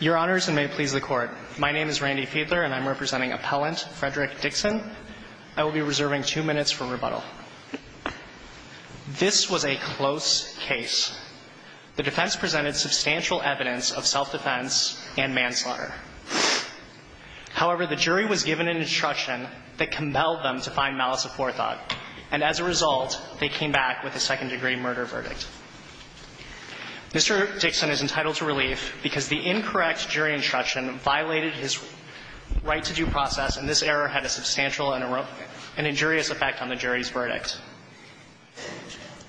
Your Honors, and may it please the Court, my name is Randy Fiedler, and I'm representing Appellant Frederick Dixon. I will be reserving two minutes for rebuttal. This was a close case. The defense presented substantial evidence of self-defense and manslaughter. However, the jury was given an instruction that compelled them to find malice of forethought, and as a result, they came back with a second-degree murder verdict. Mr. Dixon is entitled to relief because the incorrect jury instruction violated his right-to-do process, and this error had a substantial and injurious effect on the jury's verdict.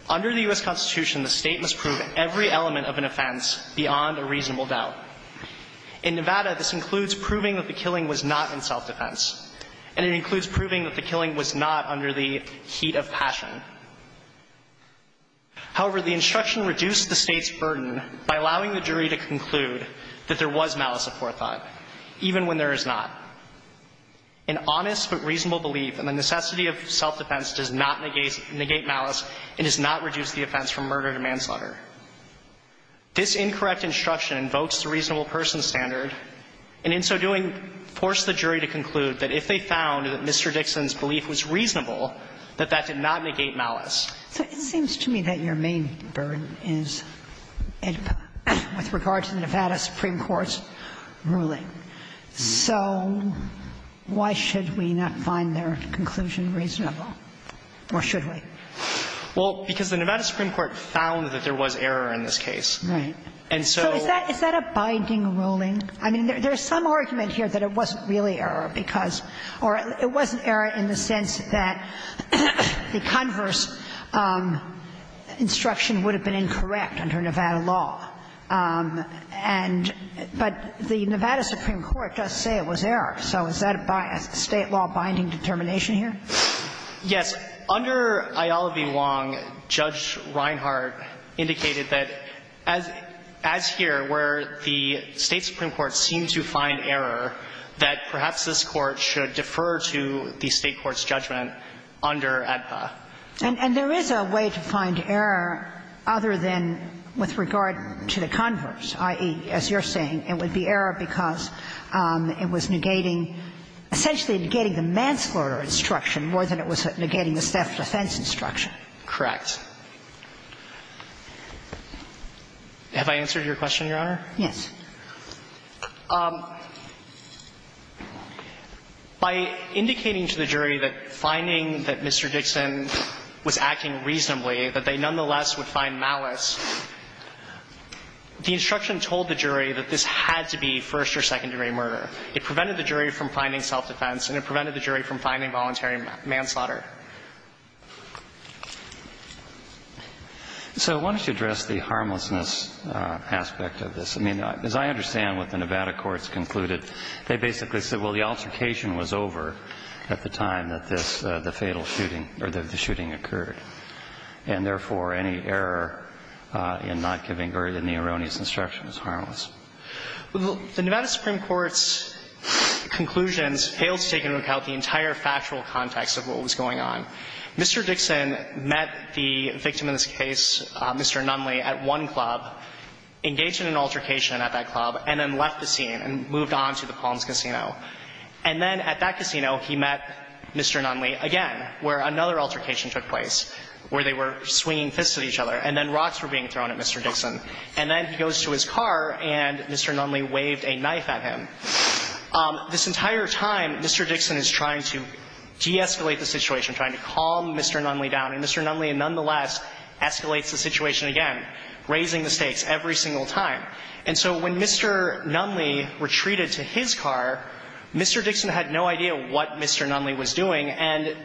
Under the U.S. Constitution, the State must prove every element of an offense beyond a reasonable doubt. In Nevada, this includes proving that the killing was not in self-defense, and it includes proving that the killing was not under the heat of passion. However, the instruction reduced the State's burden by allowing the jury to conclude that there was malice of forethought, even when there is not. An honest but reasonable belief in the necessity of self-defense does not negate malice and does not reduce the offense from murder to manslaughter. This incorrect instruction invokes the reasonable person standard, and in so doing, forced the jury to conclude that if they found that Mr. Dixon's belief was reasonable, that that did not negate malice. So it seems to me that your main burden is with regard to the Nevada Supreme Court's ruling. So why should we not find their conclusion reasonable, or should we? Well, because the Nevada Supreme Court found that there was error in this case. Right. And so Is that a binding ruling? I mean, there's some argument here that it wasn't really error because or it wasn't error in the sense that the converse instruction would have been incorrect under Nevada law. And but the Nevada Supreme Court does say it was error. So is that a State law-binding determination here? Yes. Under Ayala v. Wong, Judge Reinhart indicated that, as here, where the State Supreme Court seemed to find error, that perhaps this Court should defer to the State court's judgment under AEDPA. And there is a way to find error other than with regard to the converse, i.e., as you're saying, it would be error because it was negating, essentially negating the manslaughter instruction more than it was negating the self-defense instruction. Correct. Have I answered your question, Your Honor? Yes. By indicating to the jury that finding that Mr. Dixon was acting reasonably, that they nonetheless would find malice, the instruction told the jury that this had to be first or second degree murder. It prevented the jury from finding self-defense, and it prevented the jury from finding voluntary manslaughter. So why don't you address the harmlessness aspect of this? I mean, as I understand what the Nevada courts concluded, they basically said, well, the altercation was over at the time that this, the fatal shooting, or the shooting occurred, and, therefore, any error in not giving verdict in the erroneous instruction is harmless. Well, the Nevada Supreme Court's conclusions failed to take into account the entire factual context of what was going on. Mr. Dixon met the victim in this case, Mr. Nunley, at one club, engaged in an altercation at that club, and then left the scene and moved on to the Palms Casino. And then at that casino, he met Mr. Nunley again, where another altercation took place, where they were swinging fists at each other, and then rocks were being thrown at Mr. Dixon. And then he goes to his car, and Mr. Nunley waved a knife at him. This entire time, Mr. Dixon is trying to de-escalate the situation, trying to calm Mr. Nunley down. And Mr. Nunley, nonetheless, escalates the situation again, raising the stakes every single time. And so when Mr. Nunley retreated to his car, Mr. Dixon had no idea what Mr. Nunley was doing, and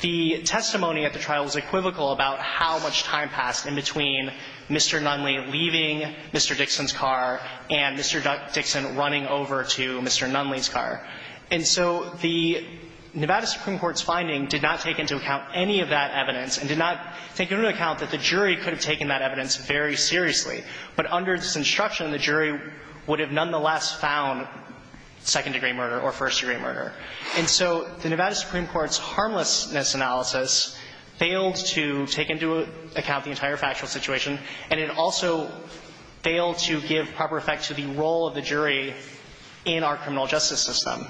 the testimony at the trial was equivocal about how much time passed in between Mr. Nunley leaving Mr. Dixon's car and Mr. Dixon running over to Mr. Nunley's car. And so the Nevada Supreme Court's finding did not take into account any of that evidence and did not take into account that the jury could have taken that evidence very seriously. But under this instruction, the jury would have nonetheless found second-degree murder or first-degree murder. And so the Nevada Supreme Court's harmlessness analysis failed to take into account the entire factual situation, and it also failed to give proper effect to the role of the jury in our criminal justice system.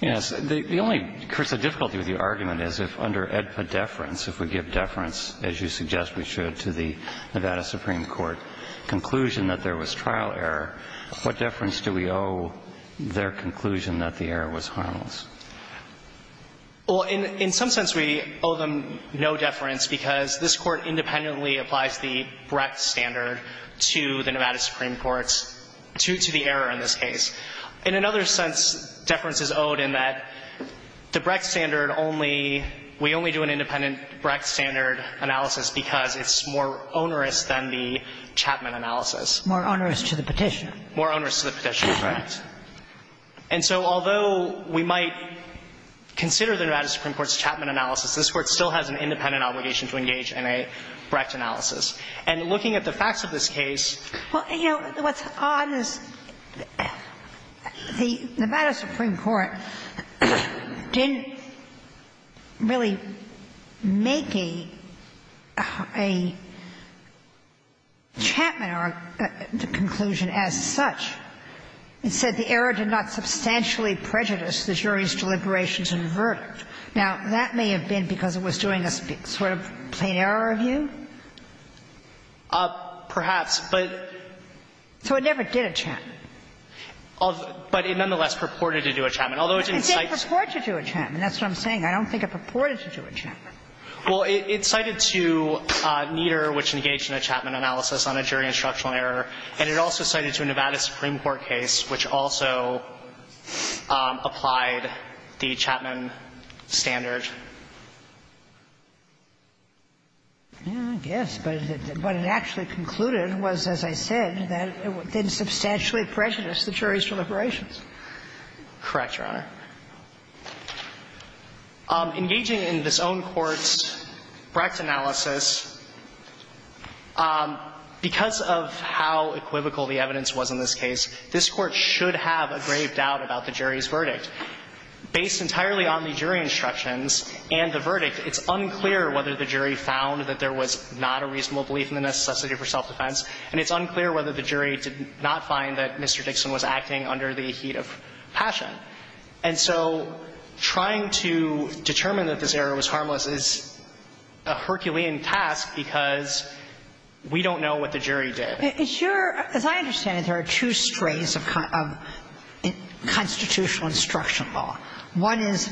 Yes. The only, Chris, the difficulty with your argument is if under AEDPA deference, if we give deference, as you suggest we should, to the Nevada Supreme Court conclusion that there was trial error, what deference do we owe their conclusion that the error was harmless? Well, in some sense, we owe them no deference because this Court independently applies the Brecht standard to the Nevada Supreme Court's, to the error in this case. In another sense, deference is owed in that the Brecht standard only, we only do an analysis. More onerous to the Petitioner. More onerous to the Petitioner, correct. And so although we might consider the Nevada Supreme Court's Chapman analysis, this Court still has an independent obligation to engage in a Brecht analysis. And looking at the facts of this case. Well, you know, what's odd is the Nevada Supreme Court didn't really make a, a Chapman conclusion as such. It said the error did not substantially prejudice the jury's deliberations and verdict. Now, that may have been because it was doing a sort of plain error review? Perhaps, but. So it never did a Chapman. But it nonetheless purported to do a Chapman, although it didn't cite. It didn't purport to do a Chapman. That's what I'm saying. I don't think it purported to do a Chapman. Well, it cited to Nieder, which engaged in a Chapman analysis on a jury instructional error, and it also cited to a Nevada Supreme Court case, which also applied the Chapman standard. Yes, but what it actually concluded was, as I said, that it didn't substantially Correct, Your Honor. Engaging in this own court's Brecht analysis, because of how equivocal the evidence was in this case, this Court should have a grave doubt about the jury's verdict. Based entirely on the jury instructions and the verdict, it's unclear whether the jury found that there was not a reasonable belief in the necessity for self-defense, and it's unclear whether the jury did not find that Mr. Dixon was acting under the heat of passion. And so trying to determine that this error was harmless is a Herculean task because we don't know what the jury did. It's your – as I understand it, there are two strays of constitutional instruction law. One is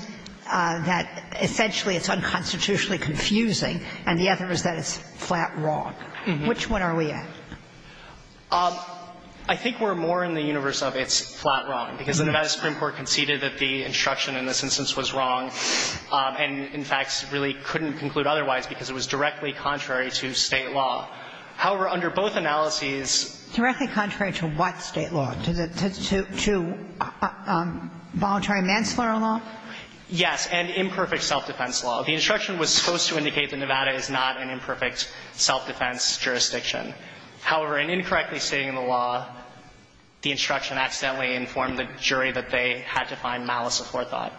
that essentially it's unconstitutionally confusing, and the other is that it's flat wrong. Which one are we at? I think we're more in the universe of it's flat wrong, because the Nevada Supreme Court conceded that the instruction in this instance was wrong and, in fact, really couldn't conclude otherwise because it was directly contrary to State law. However, under both analyses – Directly contrary to what State law? To the – to voluntary manslaughter law? Yes, and imperfect self-defense law. The instruction was supposed to indicate that Nevada is not an imperfect self-defense jurisdiction. However, in incorrectly stating the law, the instruction accidentally informed the jury that they had to find malice of forethought.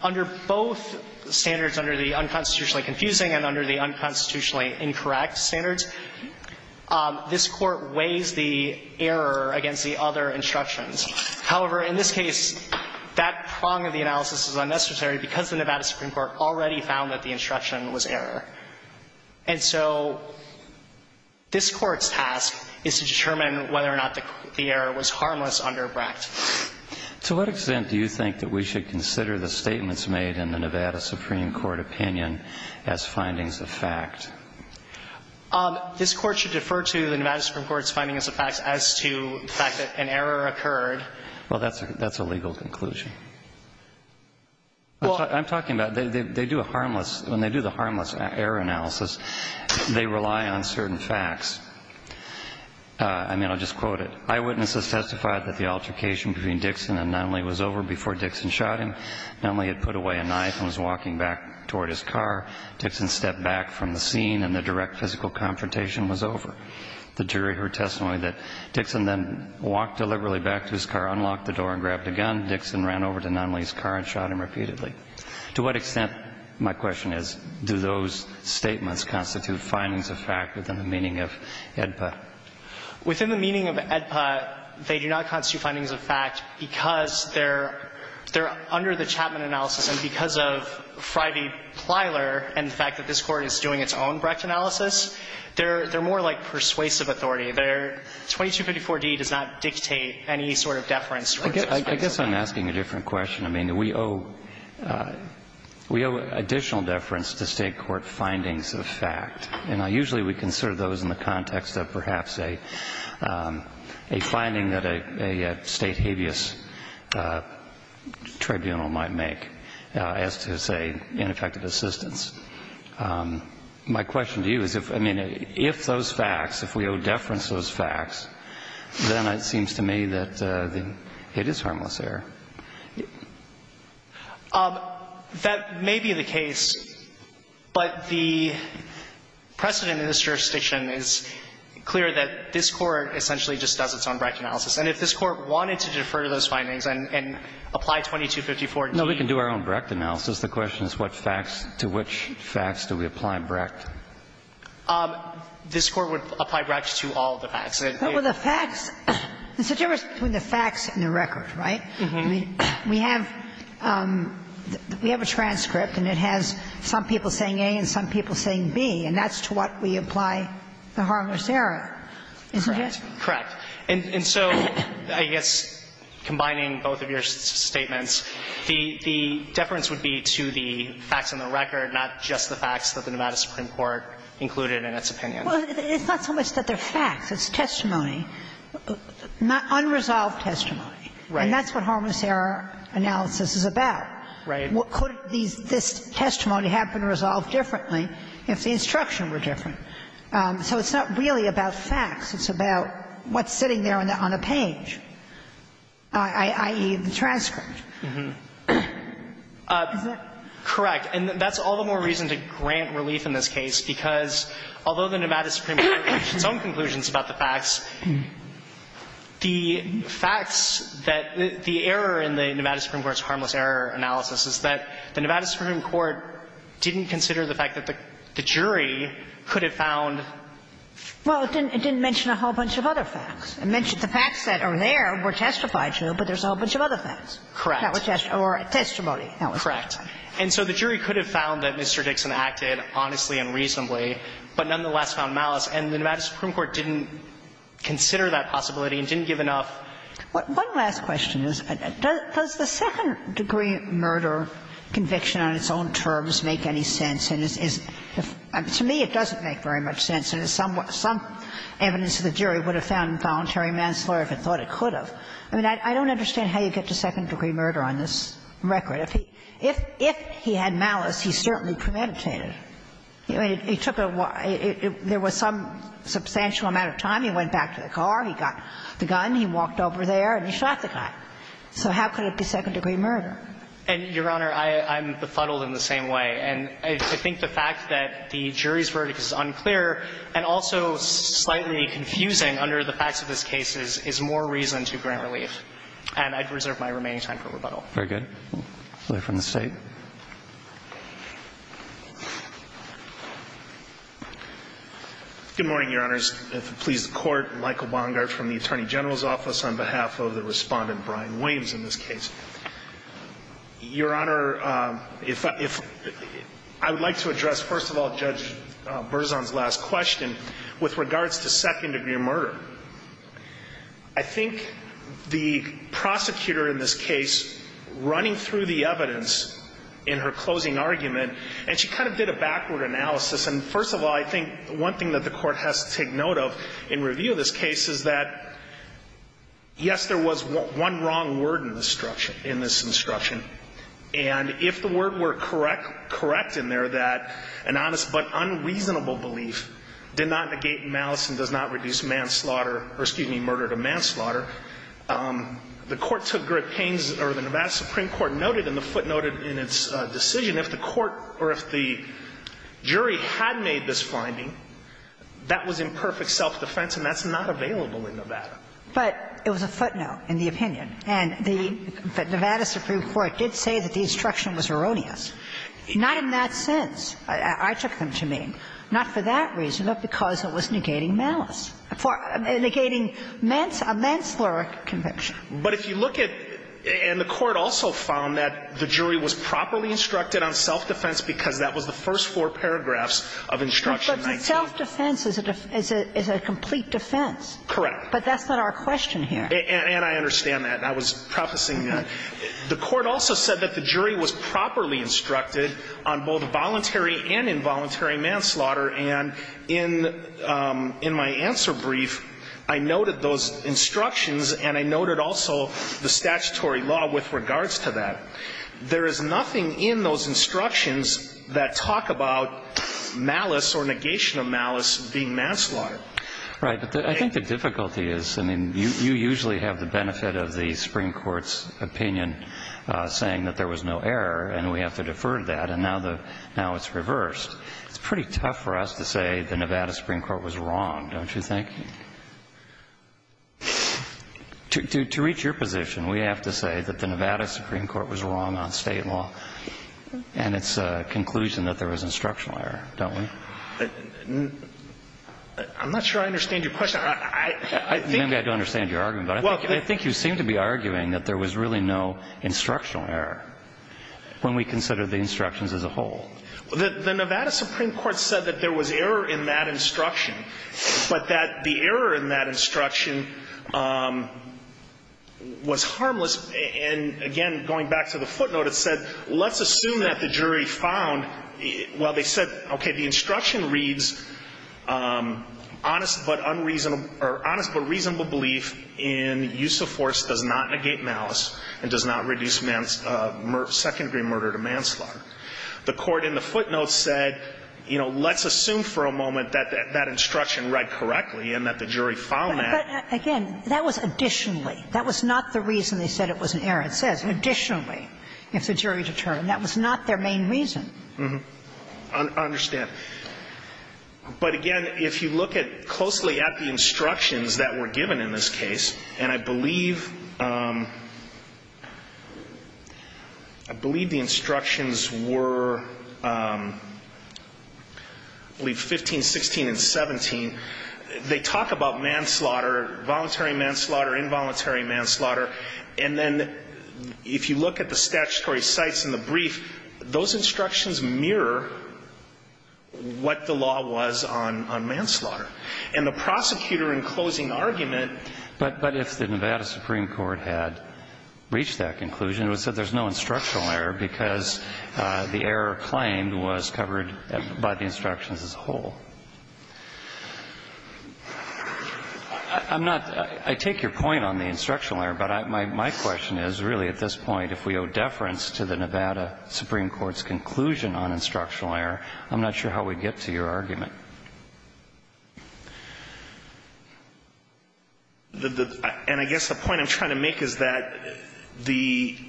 Under both standards, under the unconstitutionally confusing and under the unconstitutionally incorrect standards, this Court weighs the error against the other instructions. However, in this case, that prong of the analysis is unnecessary because the Nevada Supreme Court already found that the instruction was error. And so this Court's task is to determine whether or not the error was harmless under Bracht. To what extent do you think that we should consider the statements made in the Nevada Supreme Court opinion as findings of fact? This Court should defer to the Nevada Supreme Court's findings of fact as to the fact that an error occurred. Well, that's a – that's a legal conclusion. Well, I'm talking about they do a harmless – when they do the harmless error analysis, they rely on certain facts. I mean, I'll just quote it. Eyewitnesses testified that the altercation between Dixon and Nunley was over before Dixon shot him. Nunley had put away a knife and was walking back toward his car. Dixon stepped back from the scene and the direct physical confrontation was over. The jury heard testimony that Dixon then walked deliberately back to his car, unlocked the door and grabbed a gun. Dixon ran over to Nunley's car and shot him repeatedly. To what extent, my question is, do those statements constitute findings of fact within the meaning of AEDPA? Within the meaning of AEDPA, they do not constitute findings of fact because they're – they're under the Chapman analysis and because of Frey v. Plyler and the fact that this Court is doing its own Brecht analysis, they're more like persuasive authority. Their 2254d does not dictate any sort of deference. I guess I'm asking a different question. I mean, we owe – we owe additional deference to State court findings of fact. And usually we consider those in the context of perhaps a – a finding that a – a State habeas tribunal might make as to, say, ineffective assistance. My question to you is if – I mean, if those facts, if we owe deference to those facts, then it seems to me that it is harmless error. That may be the case, but the precedent in this jurisdiction is clear that this Court essentially just does its own Brecht analysis. And if this Court wanted to defer to those findings and – and apply 2254d to it. No, we can do our own Brecht analysis. The question is what facts – to which facts do we apply Brecht? This Court would apply Brecht to all of the facts. But with the facts – there's a difference between the facts and the record, right? We have – we have a transcript, and it has some people saying A and some people saying B, and that's to what we apply the harmless error, isn't it? Correct. And so I guess combining both of your statements, the – the deference would be to the facts and the record, not just the facts that the Nevada Supreme Court included in its opinion. Well, it's not so much that they're facts. It's testimony. Unresolved testimony. Right. And that's what harmless error analysis is about. Right. Could these – this testimony have been resolved differently if the instruction were different? So it's not really about facts. It's about what's sitting there on a page, i.e., the transcript. Is that correct? And that's all the more reason to grant relief in this case, because although the Nevada Supreme Court reached its own conclusions about the facts, the facts that – the error in the Nevada Supreme Court's harmless error analysis is that the Nevada Supreme Court didn't consider the fact that the jury could have found – Well, it didn't mention a whole bunch of other facts. It mentioned the facts that are there were testified to, but there's a whole bunch of other facts. Correct. That were – or testimony. Correct. And so the jury could have found that Mr. Dixon acted honestly and reasonably, but nonetheless found malice. And the Nevada Supreme Court didn't consider that possibility and didn't give enough One last question is, does the second-degree murder conviction on its own terms make any sense? And is – to me, it doesn't make very much sense. And some evidence of the jury would have found involuntary manslaughter if it thought it could have. I mean, I don't understand how you get to second-degree murder on this record. If he had malice, he certainly premeditated. I mean, he took a – there was some substantial amount of time. He went back to the car. He got the gun. He walked over there and he shot the guy. So how could it be second-degree murder? And, Your Honor, I'm befuddled in the same way. And I think the fact that the jury's verdict is unclear and also slightly confusing under the facts of this case is more reason to grant relief. And I'd reserve my remaining time for rebuttal. Very good. Another from the State. Good morning, Your Honors. If it pleases the Court, Michael Bongard from the Attorney General's Office on behalf of the Respondent, Brian Williams, in this case. Your Honor, if – I would like to address, first of all, Judge Berzon's last question with regards to second-degree murder. I think the prosecutor in this case, running through the evidence in her closing argument, and she kind of did a backward analysis. And first of all, I think one thing that the Court has to take note of in review of this case is that, yes, there was one wrong word in this instruction. And if the word were correct in there, that an honest but unreasonable belief did not negate malice and does not reduce manslaughter – or, excuse me, murder to manslaughter, the Court took great pains – or the Nevada Supreme Court noted and the footnote in its decision, if the court – or if the jury had made this finding, that was imperfect self-defense, and that's not available in Nevada. But it was a footnote in the opinion. And the Nevada Supreme Court did say that the instruction was erroneous. Not in that sense. I took them to mean. Not for that reason, but because it was negating malice. Negating manslaughter conviction. But if you look at – and the Court also found that the jury was properly instructed on self-defense because that was the first four paragraphs of Instruction 19. But self-defense is a – is a complete defense. Correct. But that's not our question here. And I understand that. I was prefacing that. The Court also said that the jury was properly instructed on both voluntary and involuntary manslaughter. And in – in my answer brief, I noted those instructions and I noted also the statutory law with regards to that. There is nothing in those instructions that talk about malice or negation of malice being manslaughter. Right. But I think the difficulty is – I mean, you usually have the benefit of the Supreme Court's opinion saying that there was no error and we have to defer that. And now the – now it's reversed. It's pretty tough for us to say the Nevada Supreme Court was wrong, don't you think? To – to reach your position, we have to say that the Nevada Supreme Court was wrong on state law. And it's a conclusion that there was instructional error, don't we? I'm not sure I understand your question. I think – Maybe I don't understand your argument. But I think you seem to be arguing that there was really no instructional error when we consider the instructions as a whole. The Nevada Supreme Court said that there was error in that instruction, but that the error in that instruction was harmless. And again, going back to the footnote, it said, let's assume that the jury found – well, they said, okay, the instruction reads, honest but unreasonable – or honest but reasonable belief in use of force does not negate malice and does not reduce mans – second-degree murder to manslaughter. The court in the footnote said, you know, let's assume for a moment that that instruction read correctly and that the jury found that. But again, that was additionally. That was not the reason they said it was an error. It says, additionally, if the jury determined. That was not their main reason. Mm-hmm. I understand. But again, if you look at – closely at the instructions that were given in this were, I believe, 15, 16, and 17, they talk about manslaughter, voluntary manslaughter, involuntary manslaughter. And then if you look at the statutory cites in the brief, those instructions mirror what the law was on manslaughter. And the prosecutor in closing argument – But if the Nevada Supreme Court had reached that conclusion, it would have said there's no instructional error because the error claimed was covered by the instructions as a whole. I'm not – I take your point on the instructional error, but my question is, really, at this point, if we owe deference to the Nevada Supreme Court's conclusion on instructional error, I'm not sure how we'd get to your argument. The – and I guess the point I'm trying to make is that the –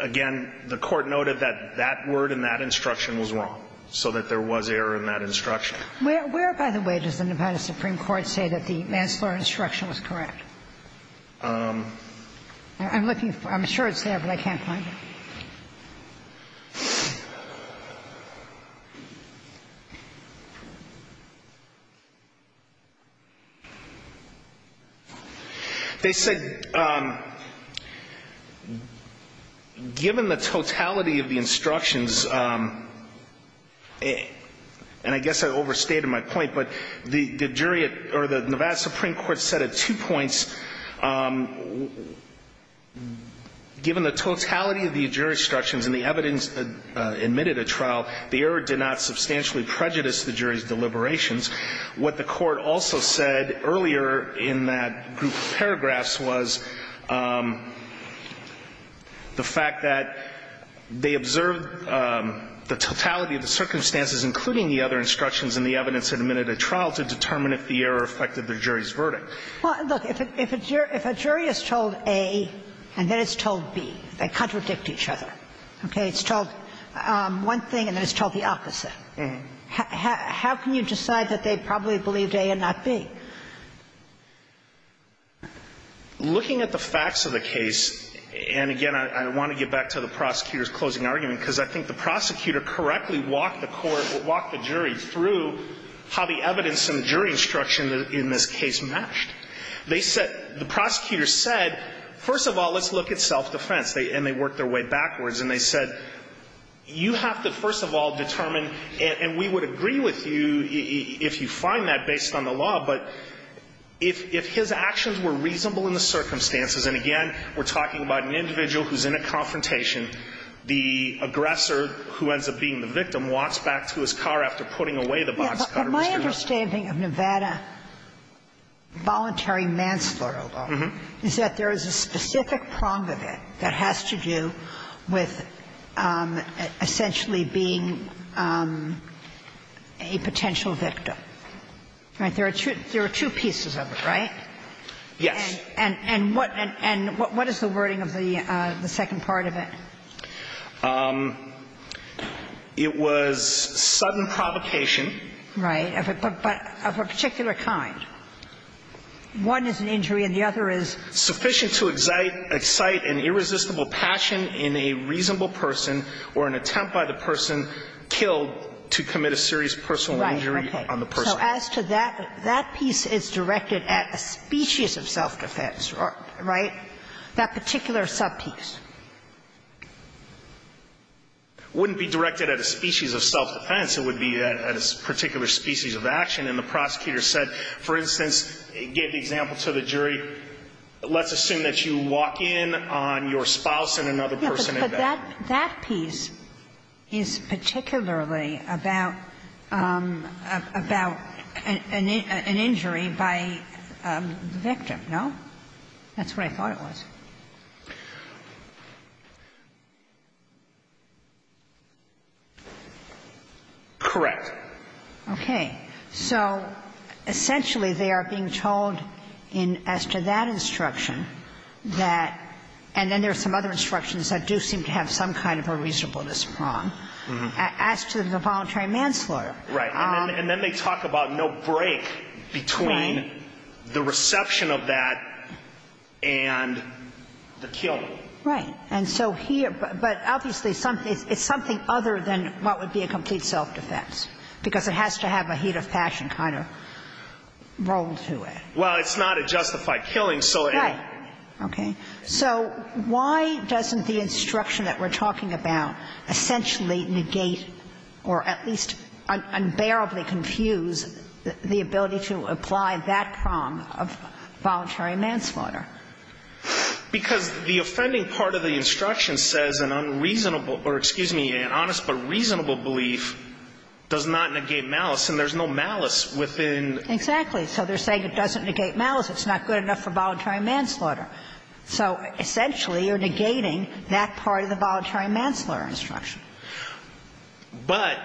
again, the Court noted that that word in that instruction was wrong, so that there was error in that instruction. Where, by the way, does the Nevada Supreme Court say that the manslaughter instruction was correct? I'm looking for – I'm sure it's there, but I can't find it. They said, given the totality of the instructions – and I guess I overstated my point, but the jury at – or the Nevada Supreme Court said at two points, given the jury's instructions and the evidence admitted at trial, the error did not substantially prejudice the jury's deliberations. What the Court also said earlier in that group of paragraphs was the fact that they observed the totality of the circumstances, including the other instructions and the evidence admitted at trial, to determine if the error affected the jury's verdict. Well, look, if a jury is told A and then it's told B, they contradict each other. Okay? It's told one thing and then it's told the opposite. How can you decide that they probably believed A and not B? Looking at the facts of the case, and again, I want to get back to the prosecutor's closing argument, because I think the prosecutor correctly walked the court – walked the jury through how the evidence and the jury instruction in this case matched. They said – the prosecutor said, first of all, let's look at self-defense, and they worked their way backwards. And they said, you have to first of all determine – and we would agree with you if you find that based on the law, but if his actions were reasonable in the circumstances – and again, we're talking about an individual who's in a confrontation, the aggressor, who ends up being the victim, walks back to his car after putting away the boxcutter. But my understanding of Nevada voluntary manslaughter, although, is that there is a specific prong of it that has to do with essentially being a potential victim, right? There are two pieces of it, right? Yes. And what is the wording of the second part of it? It was sudden provocation. Right. But of a particular kind. One is an injury and the other is sufficient to excite an irresistible passion in a reasonable person or an attempt by the person killed to commit a serious personal injury on the person. Right. Okay. So as to that, that piece is directed at a species of self-defense, right? That particular subpiece. Wouldn't be directed at a species of self-defense. It would be at a particular species of action. And the prosecutor said, for instance, gave the example to the jury, let's assume that you walk in on your spouse and another person in bed. But that piece is particularly about an injury by the victim, no? That's what I thought it was. Correct. Okay. So essentially they are being told in as to that instruction that, and then there are some other instructions that do seem to have some kind of a reasonableness prong, as to the voluntary manslaughter. Right. And then they talk about no break between the reception of that and the killing. Right. And so here, but obviously it's something other than what would be a complete self-defense, because it has to have a heat of passion kind of role to it. Well, it's not a justified killing, so it. Right. Okay. So why doesn't the instruction that we're talking about essentially negate or at least terribly confuse the ability to apply that prong of voluntary manslaughter? Because the offending part of the instruction says an unreasonable or, excuse me, an honest but reasonable belief does not negate malice, and there's no malice within. Exactly. So they're saying it doesn't negate malice. It's not good enough for voluntary manslaughter. So essentially you're negating that part of the voluntary manslaughter instruction. But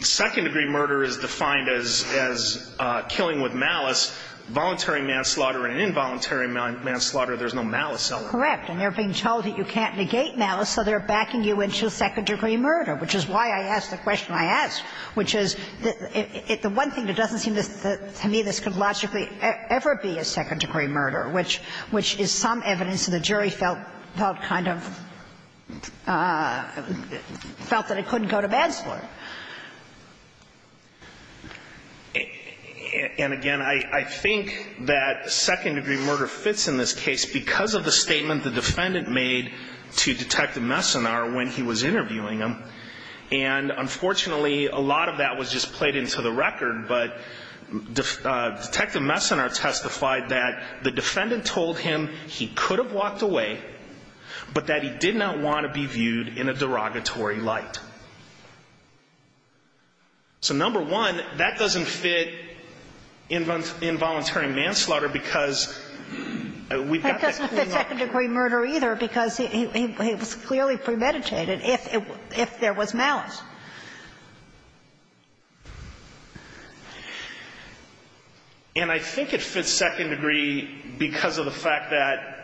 second-degree murder is defined as killing with malice. Voluntary manslaughter and involuntary manslaughter, there's no malice element. Correct. And they're being told that you can't negate malice, so they're backing you into second-degree murder, which is why I asked the question I asked, which is the one thing that doesn't seem to me this could logically ever be a second-degree murder, which is some evidence that the jury felt kind of, I don't know, was felt that it couldn't go to bed for. And, again, I think that second-degree murder fits in this case because of the statement the defendant made to Detective Messina when he was interviewing him. And, unfortunately, a lot of that was just played into the record, but Detective Messina testified that the defendant told him he could have walked away, but that he did not want to be viewed in a derogatory light. So, number one, that doesn't fit involuntary manslaughter because we've got that cleanup. It doesn't fit second-degree murder either because he was clearly premeditated if there was malice. And I think it fits second-degree because of the fact that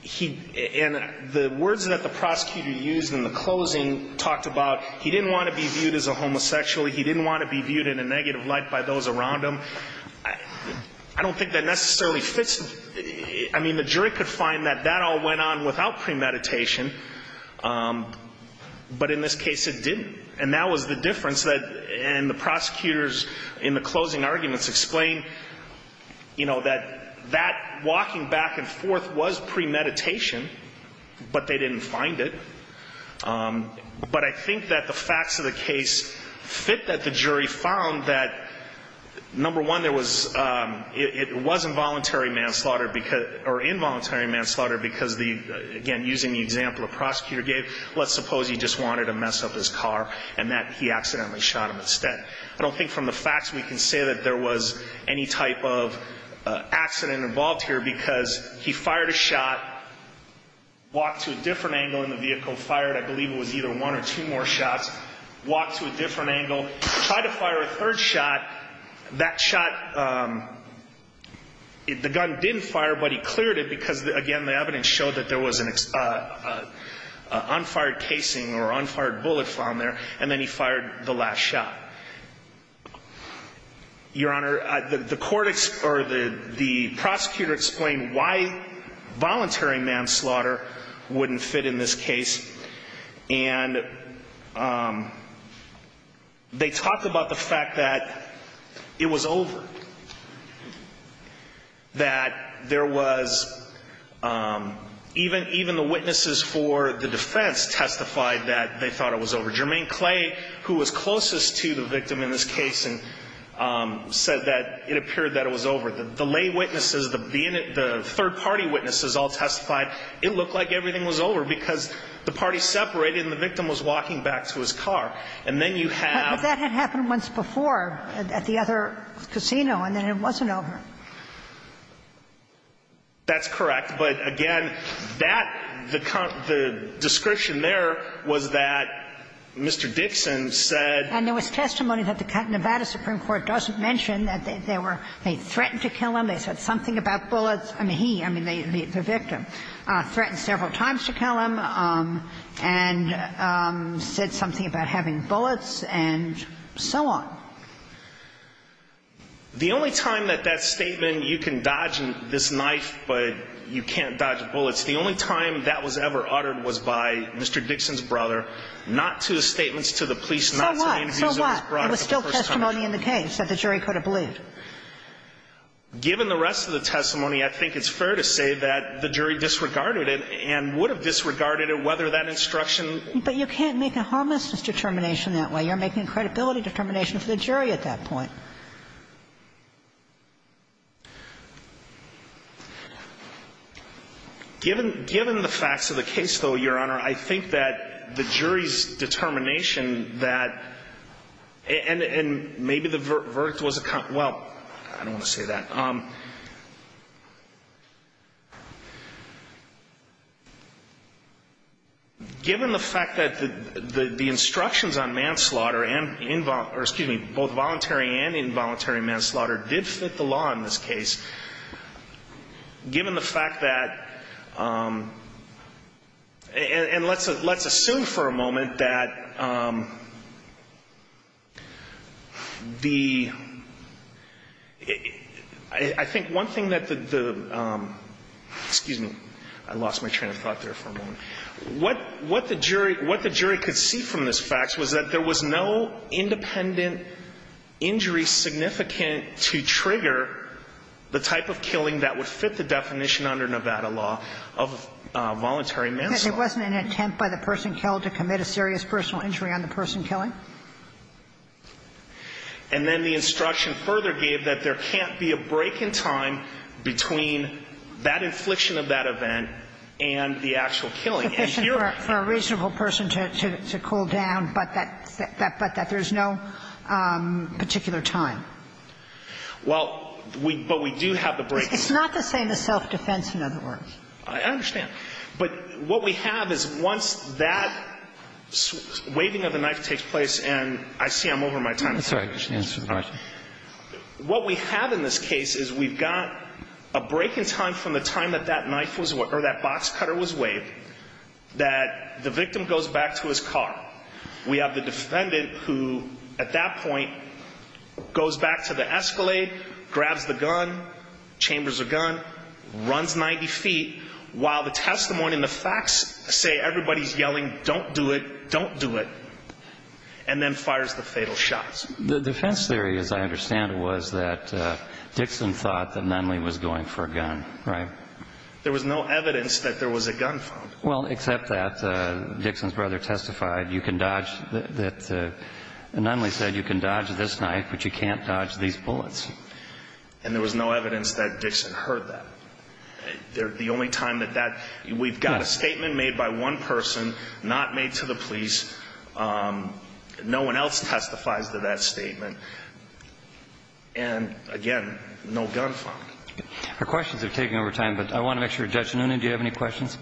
he, and the words that the prosecutor used in the closing talked about he didn't want to be viewed as a homosexual, he didn't want to be viewed in a negative light by those around him. I don't think that necessarily fits. I mean, the jury could find that that all went on without premeditation. But in this case it didn't. And that was the difference that, and the prosecutors in the closing arguments explained, you know, that that walking back and forth was premeditation, but they didn't find it. But I think that the facts of the case fit that the jury found that, number one, there was, it was involuntary manslaughter, or involuntary manslaughter because, again, using the example the prosecutor gave, let's suppose he just wanted to mess up his car and that he accidentally shot him instead. I don't think from the facts we can say that there was any type of accident involved here because he fired a shot, walked to a different angle in the vehicle, fired, I believe it was either one or two more shots, walked to a different angle, tried to fire a third shot. That shot, the gun didn't fire, but he cleared it because, again, the evidence showed that there was an on-fired casing or on-fired bullet found there, and then he fired the last shot. Your Honor, the court, or the prosecutor explained why voluntary manslaughter wouldn't fit in this case, and they talked about the fact that it was over, that there was even the witnesses for the defense testified that they thought it was over. Jermaine Clay, who was closest to the victim in this case, said that it appeared that it was over. The lay witnesses, the third-party witnesses all testified it looked like everything was over because the parties separated and the victim was walking back to his car. And then you have ---- But that had happened once before at the other casino, and then it wasn't over. That's correct. But, again, that, the description there was that Mr. Dixon said ---- And there was testimony that the Nevada Supreme Court doesn't mention that they were ---- they threatened to kill him, they said something about bullets. I mean, he, I mean, the victim, threatened several times to kill him and said something about having bullets and so on. The only time that that statement, you can dodge this knife, but you can't dodge bullets, the only time that was ever uttered was by Mr. Dixon's brother, not to his statements to the police, not to the interviews of his brother for the first time. So what? So what? It was still testimony in the case that the jury could have believed. Given the rest of the testimony, I think it's fair to say that the jury disregarded it and would have disregarded it whether that instruction ---- But you can't make a homelessness determination that way. You're making a credibility determination for the jury at that point. Given the facts of the case, though, Your Honor, I think that the jury's determination that ---- and maybe the verdict was a ---- well, I don't want to say that. Given the fact that the instructions on manslaughter and ---- or, excuse me, both voluntary and involuntary manslaughter did fit the law in this case, given the fact that ---- and let's assume for a moment that the ---- I think one thing that the ---- excuse me, I lost my train of thought there for a moment. What the jury could see from this fact was that there was no independent injury significant to trigger the type of killing that would fit the definition under Nevada law of voluntary manslaughter. Because it wasn't an attempt by the person killed to commit a serious personal injury on the person killing? And then the instruction further gave that there can't be a break in time between that infliction of that event and the actual killing. It's sufficient for a reasonable person to cool down, but that there's no particular Well, but we do have the break in time. It's not the same as self-defense, in other words. I understand. But what we have is once that waving of the knife takes place, and I see I'm over my time. That's all right. Just answer the question. What we have in this case is we've got a break in time from the time that that knife was or that box cutter was waved that the victim goes back to his car. We have the defendant who, at that point, goes back to the Escalade, grabs the gun, chambers the gun, runs 90 feet, while the testimony and the facts say everybody's yelling, don't do it, don't do it, and then fires the fatal shot. The defense theory, as I understand it, was that Dixon thought that Nunley was going for a gun, right? There was no evidence that there was a gun found. Well, except that Dixon's brother testified that Nunley said, you can dodge this knife, but you can't dodge these bullets. And there was no evidence that Dixon heard that. The only time that that, we've got a statement made by one person, not made to the police. No one else testifies to that statement. And, again, no gun found. Our questions are taking over time, but I want to make sure, Judge Nunin, do you have any questions?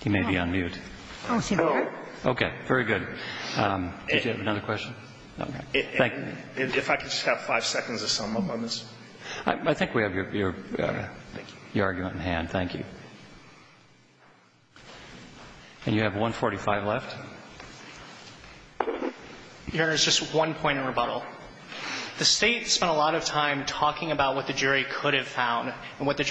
He may be on mute. Oh, is he there? Okay. Very good. Did you have another question? Okay. Thank you. If I could just have five seconds of silence on this. I think we have your argument in hand. Thank you. And you have 1.45 left. Your Honor, there's just one point of rebuttal. The State spent a lot of time talking about what the jury could have found and what to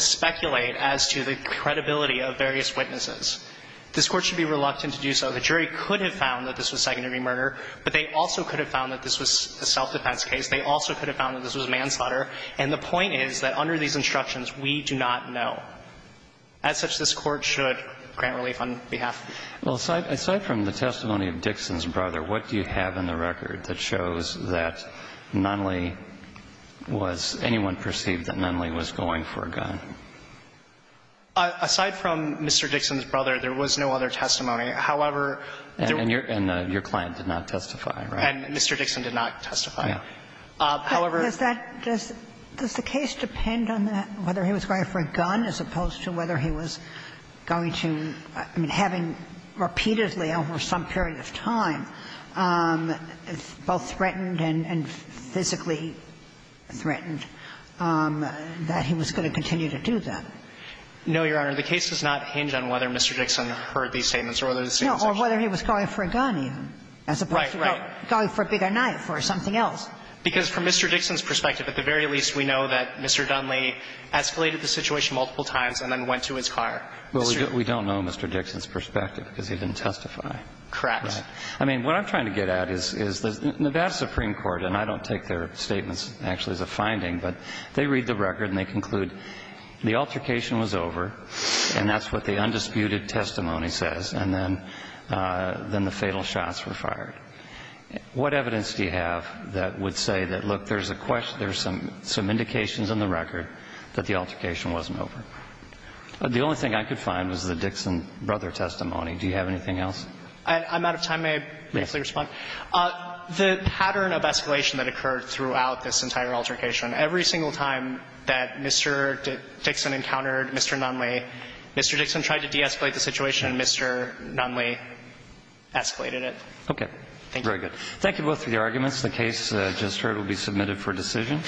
speculate as to the credibility of various witnesses. This Court should be reluctant to do so. The jury could have found that this was secondary murder, but they also could have found that this was a self-defense case. They also could have found that this was manslaughter. And the point is that under these instructions, we do not know. As such, this Court should grant relief on behalf. Well, aside from the testimony of Dixon's brother, what do you have in the record that shows that Nunley was anyone perceived that Nunley was going for a gun? Aside from Mr. Dixon's brother, there was no other testimony. However, there were. And your client did not testify, right? And Mr. Dixon did not testify. However. Does that – does the case depend on whether he was going for a gun as opposed to whether he was going to – I mean, having repeatedly over some period of time both threatened and physically threatened, that he was going to continue to do that? No, Your Honor. The case does not hinge on whether Mr. Dixon heard these statements or whether the statements were true. No, or whether he was going for a gun even as opposed to going for a bigger knife or something else. Because from Mr. Dixon's perspective, at the very least, we know that Mr. Nunley escalated the situation multiple times and then went to his car. Well, we don't know Mr. Dixon's perspective because he didn't testify. Correct. I mean, what I'm trying to get at is the Nevada Supreme Court, and I don't take their statements actually as a finding, but they read the record and they conclude the altercation was over, and that's what the undisputed testimony says. And then the fatal shots were fired. What evidence do you have that would say that, look, there's a – there's some indications in the record that the altercation wasn't over? The only thing I could find was the Dixon brother testimony. Do you have anything else? I'm out of time. May I briefly respond? Yes. The pattern of escalation that occurred throughout this entire altercation, every single time that Mr. Dixon encountered Mr. Nunley, Mr. Dixon tried to de-escalate the situation and Mr. Nunley escalated it. Okay. Thank you. Very good. Thank you both for your arguments. The case just heard will be submitted for decision.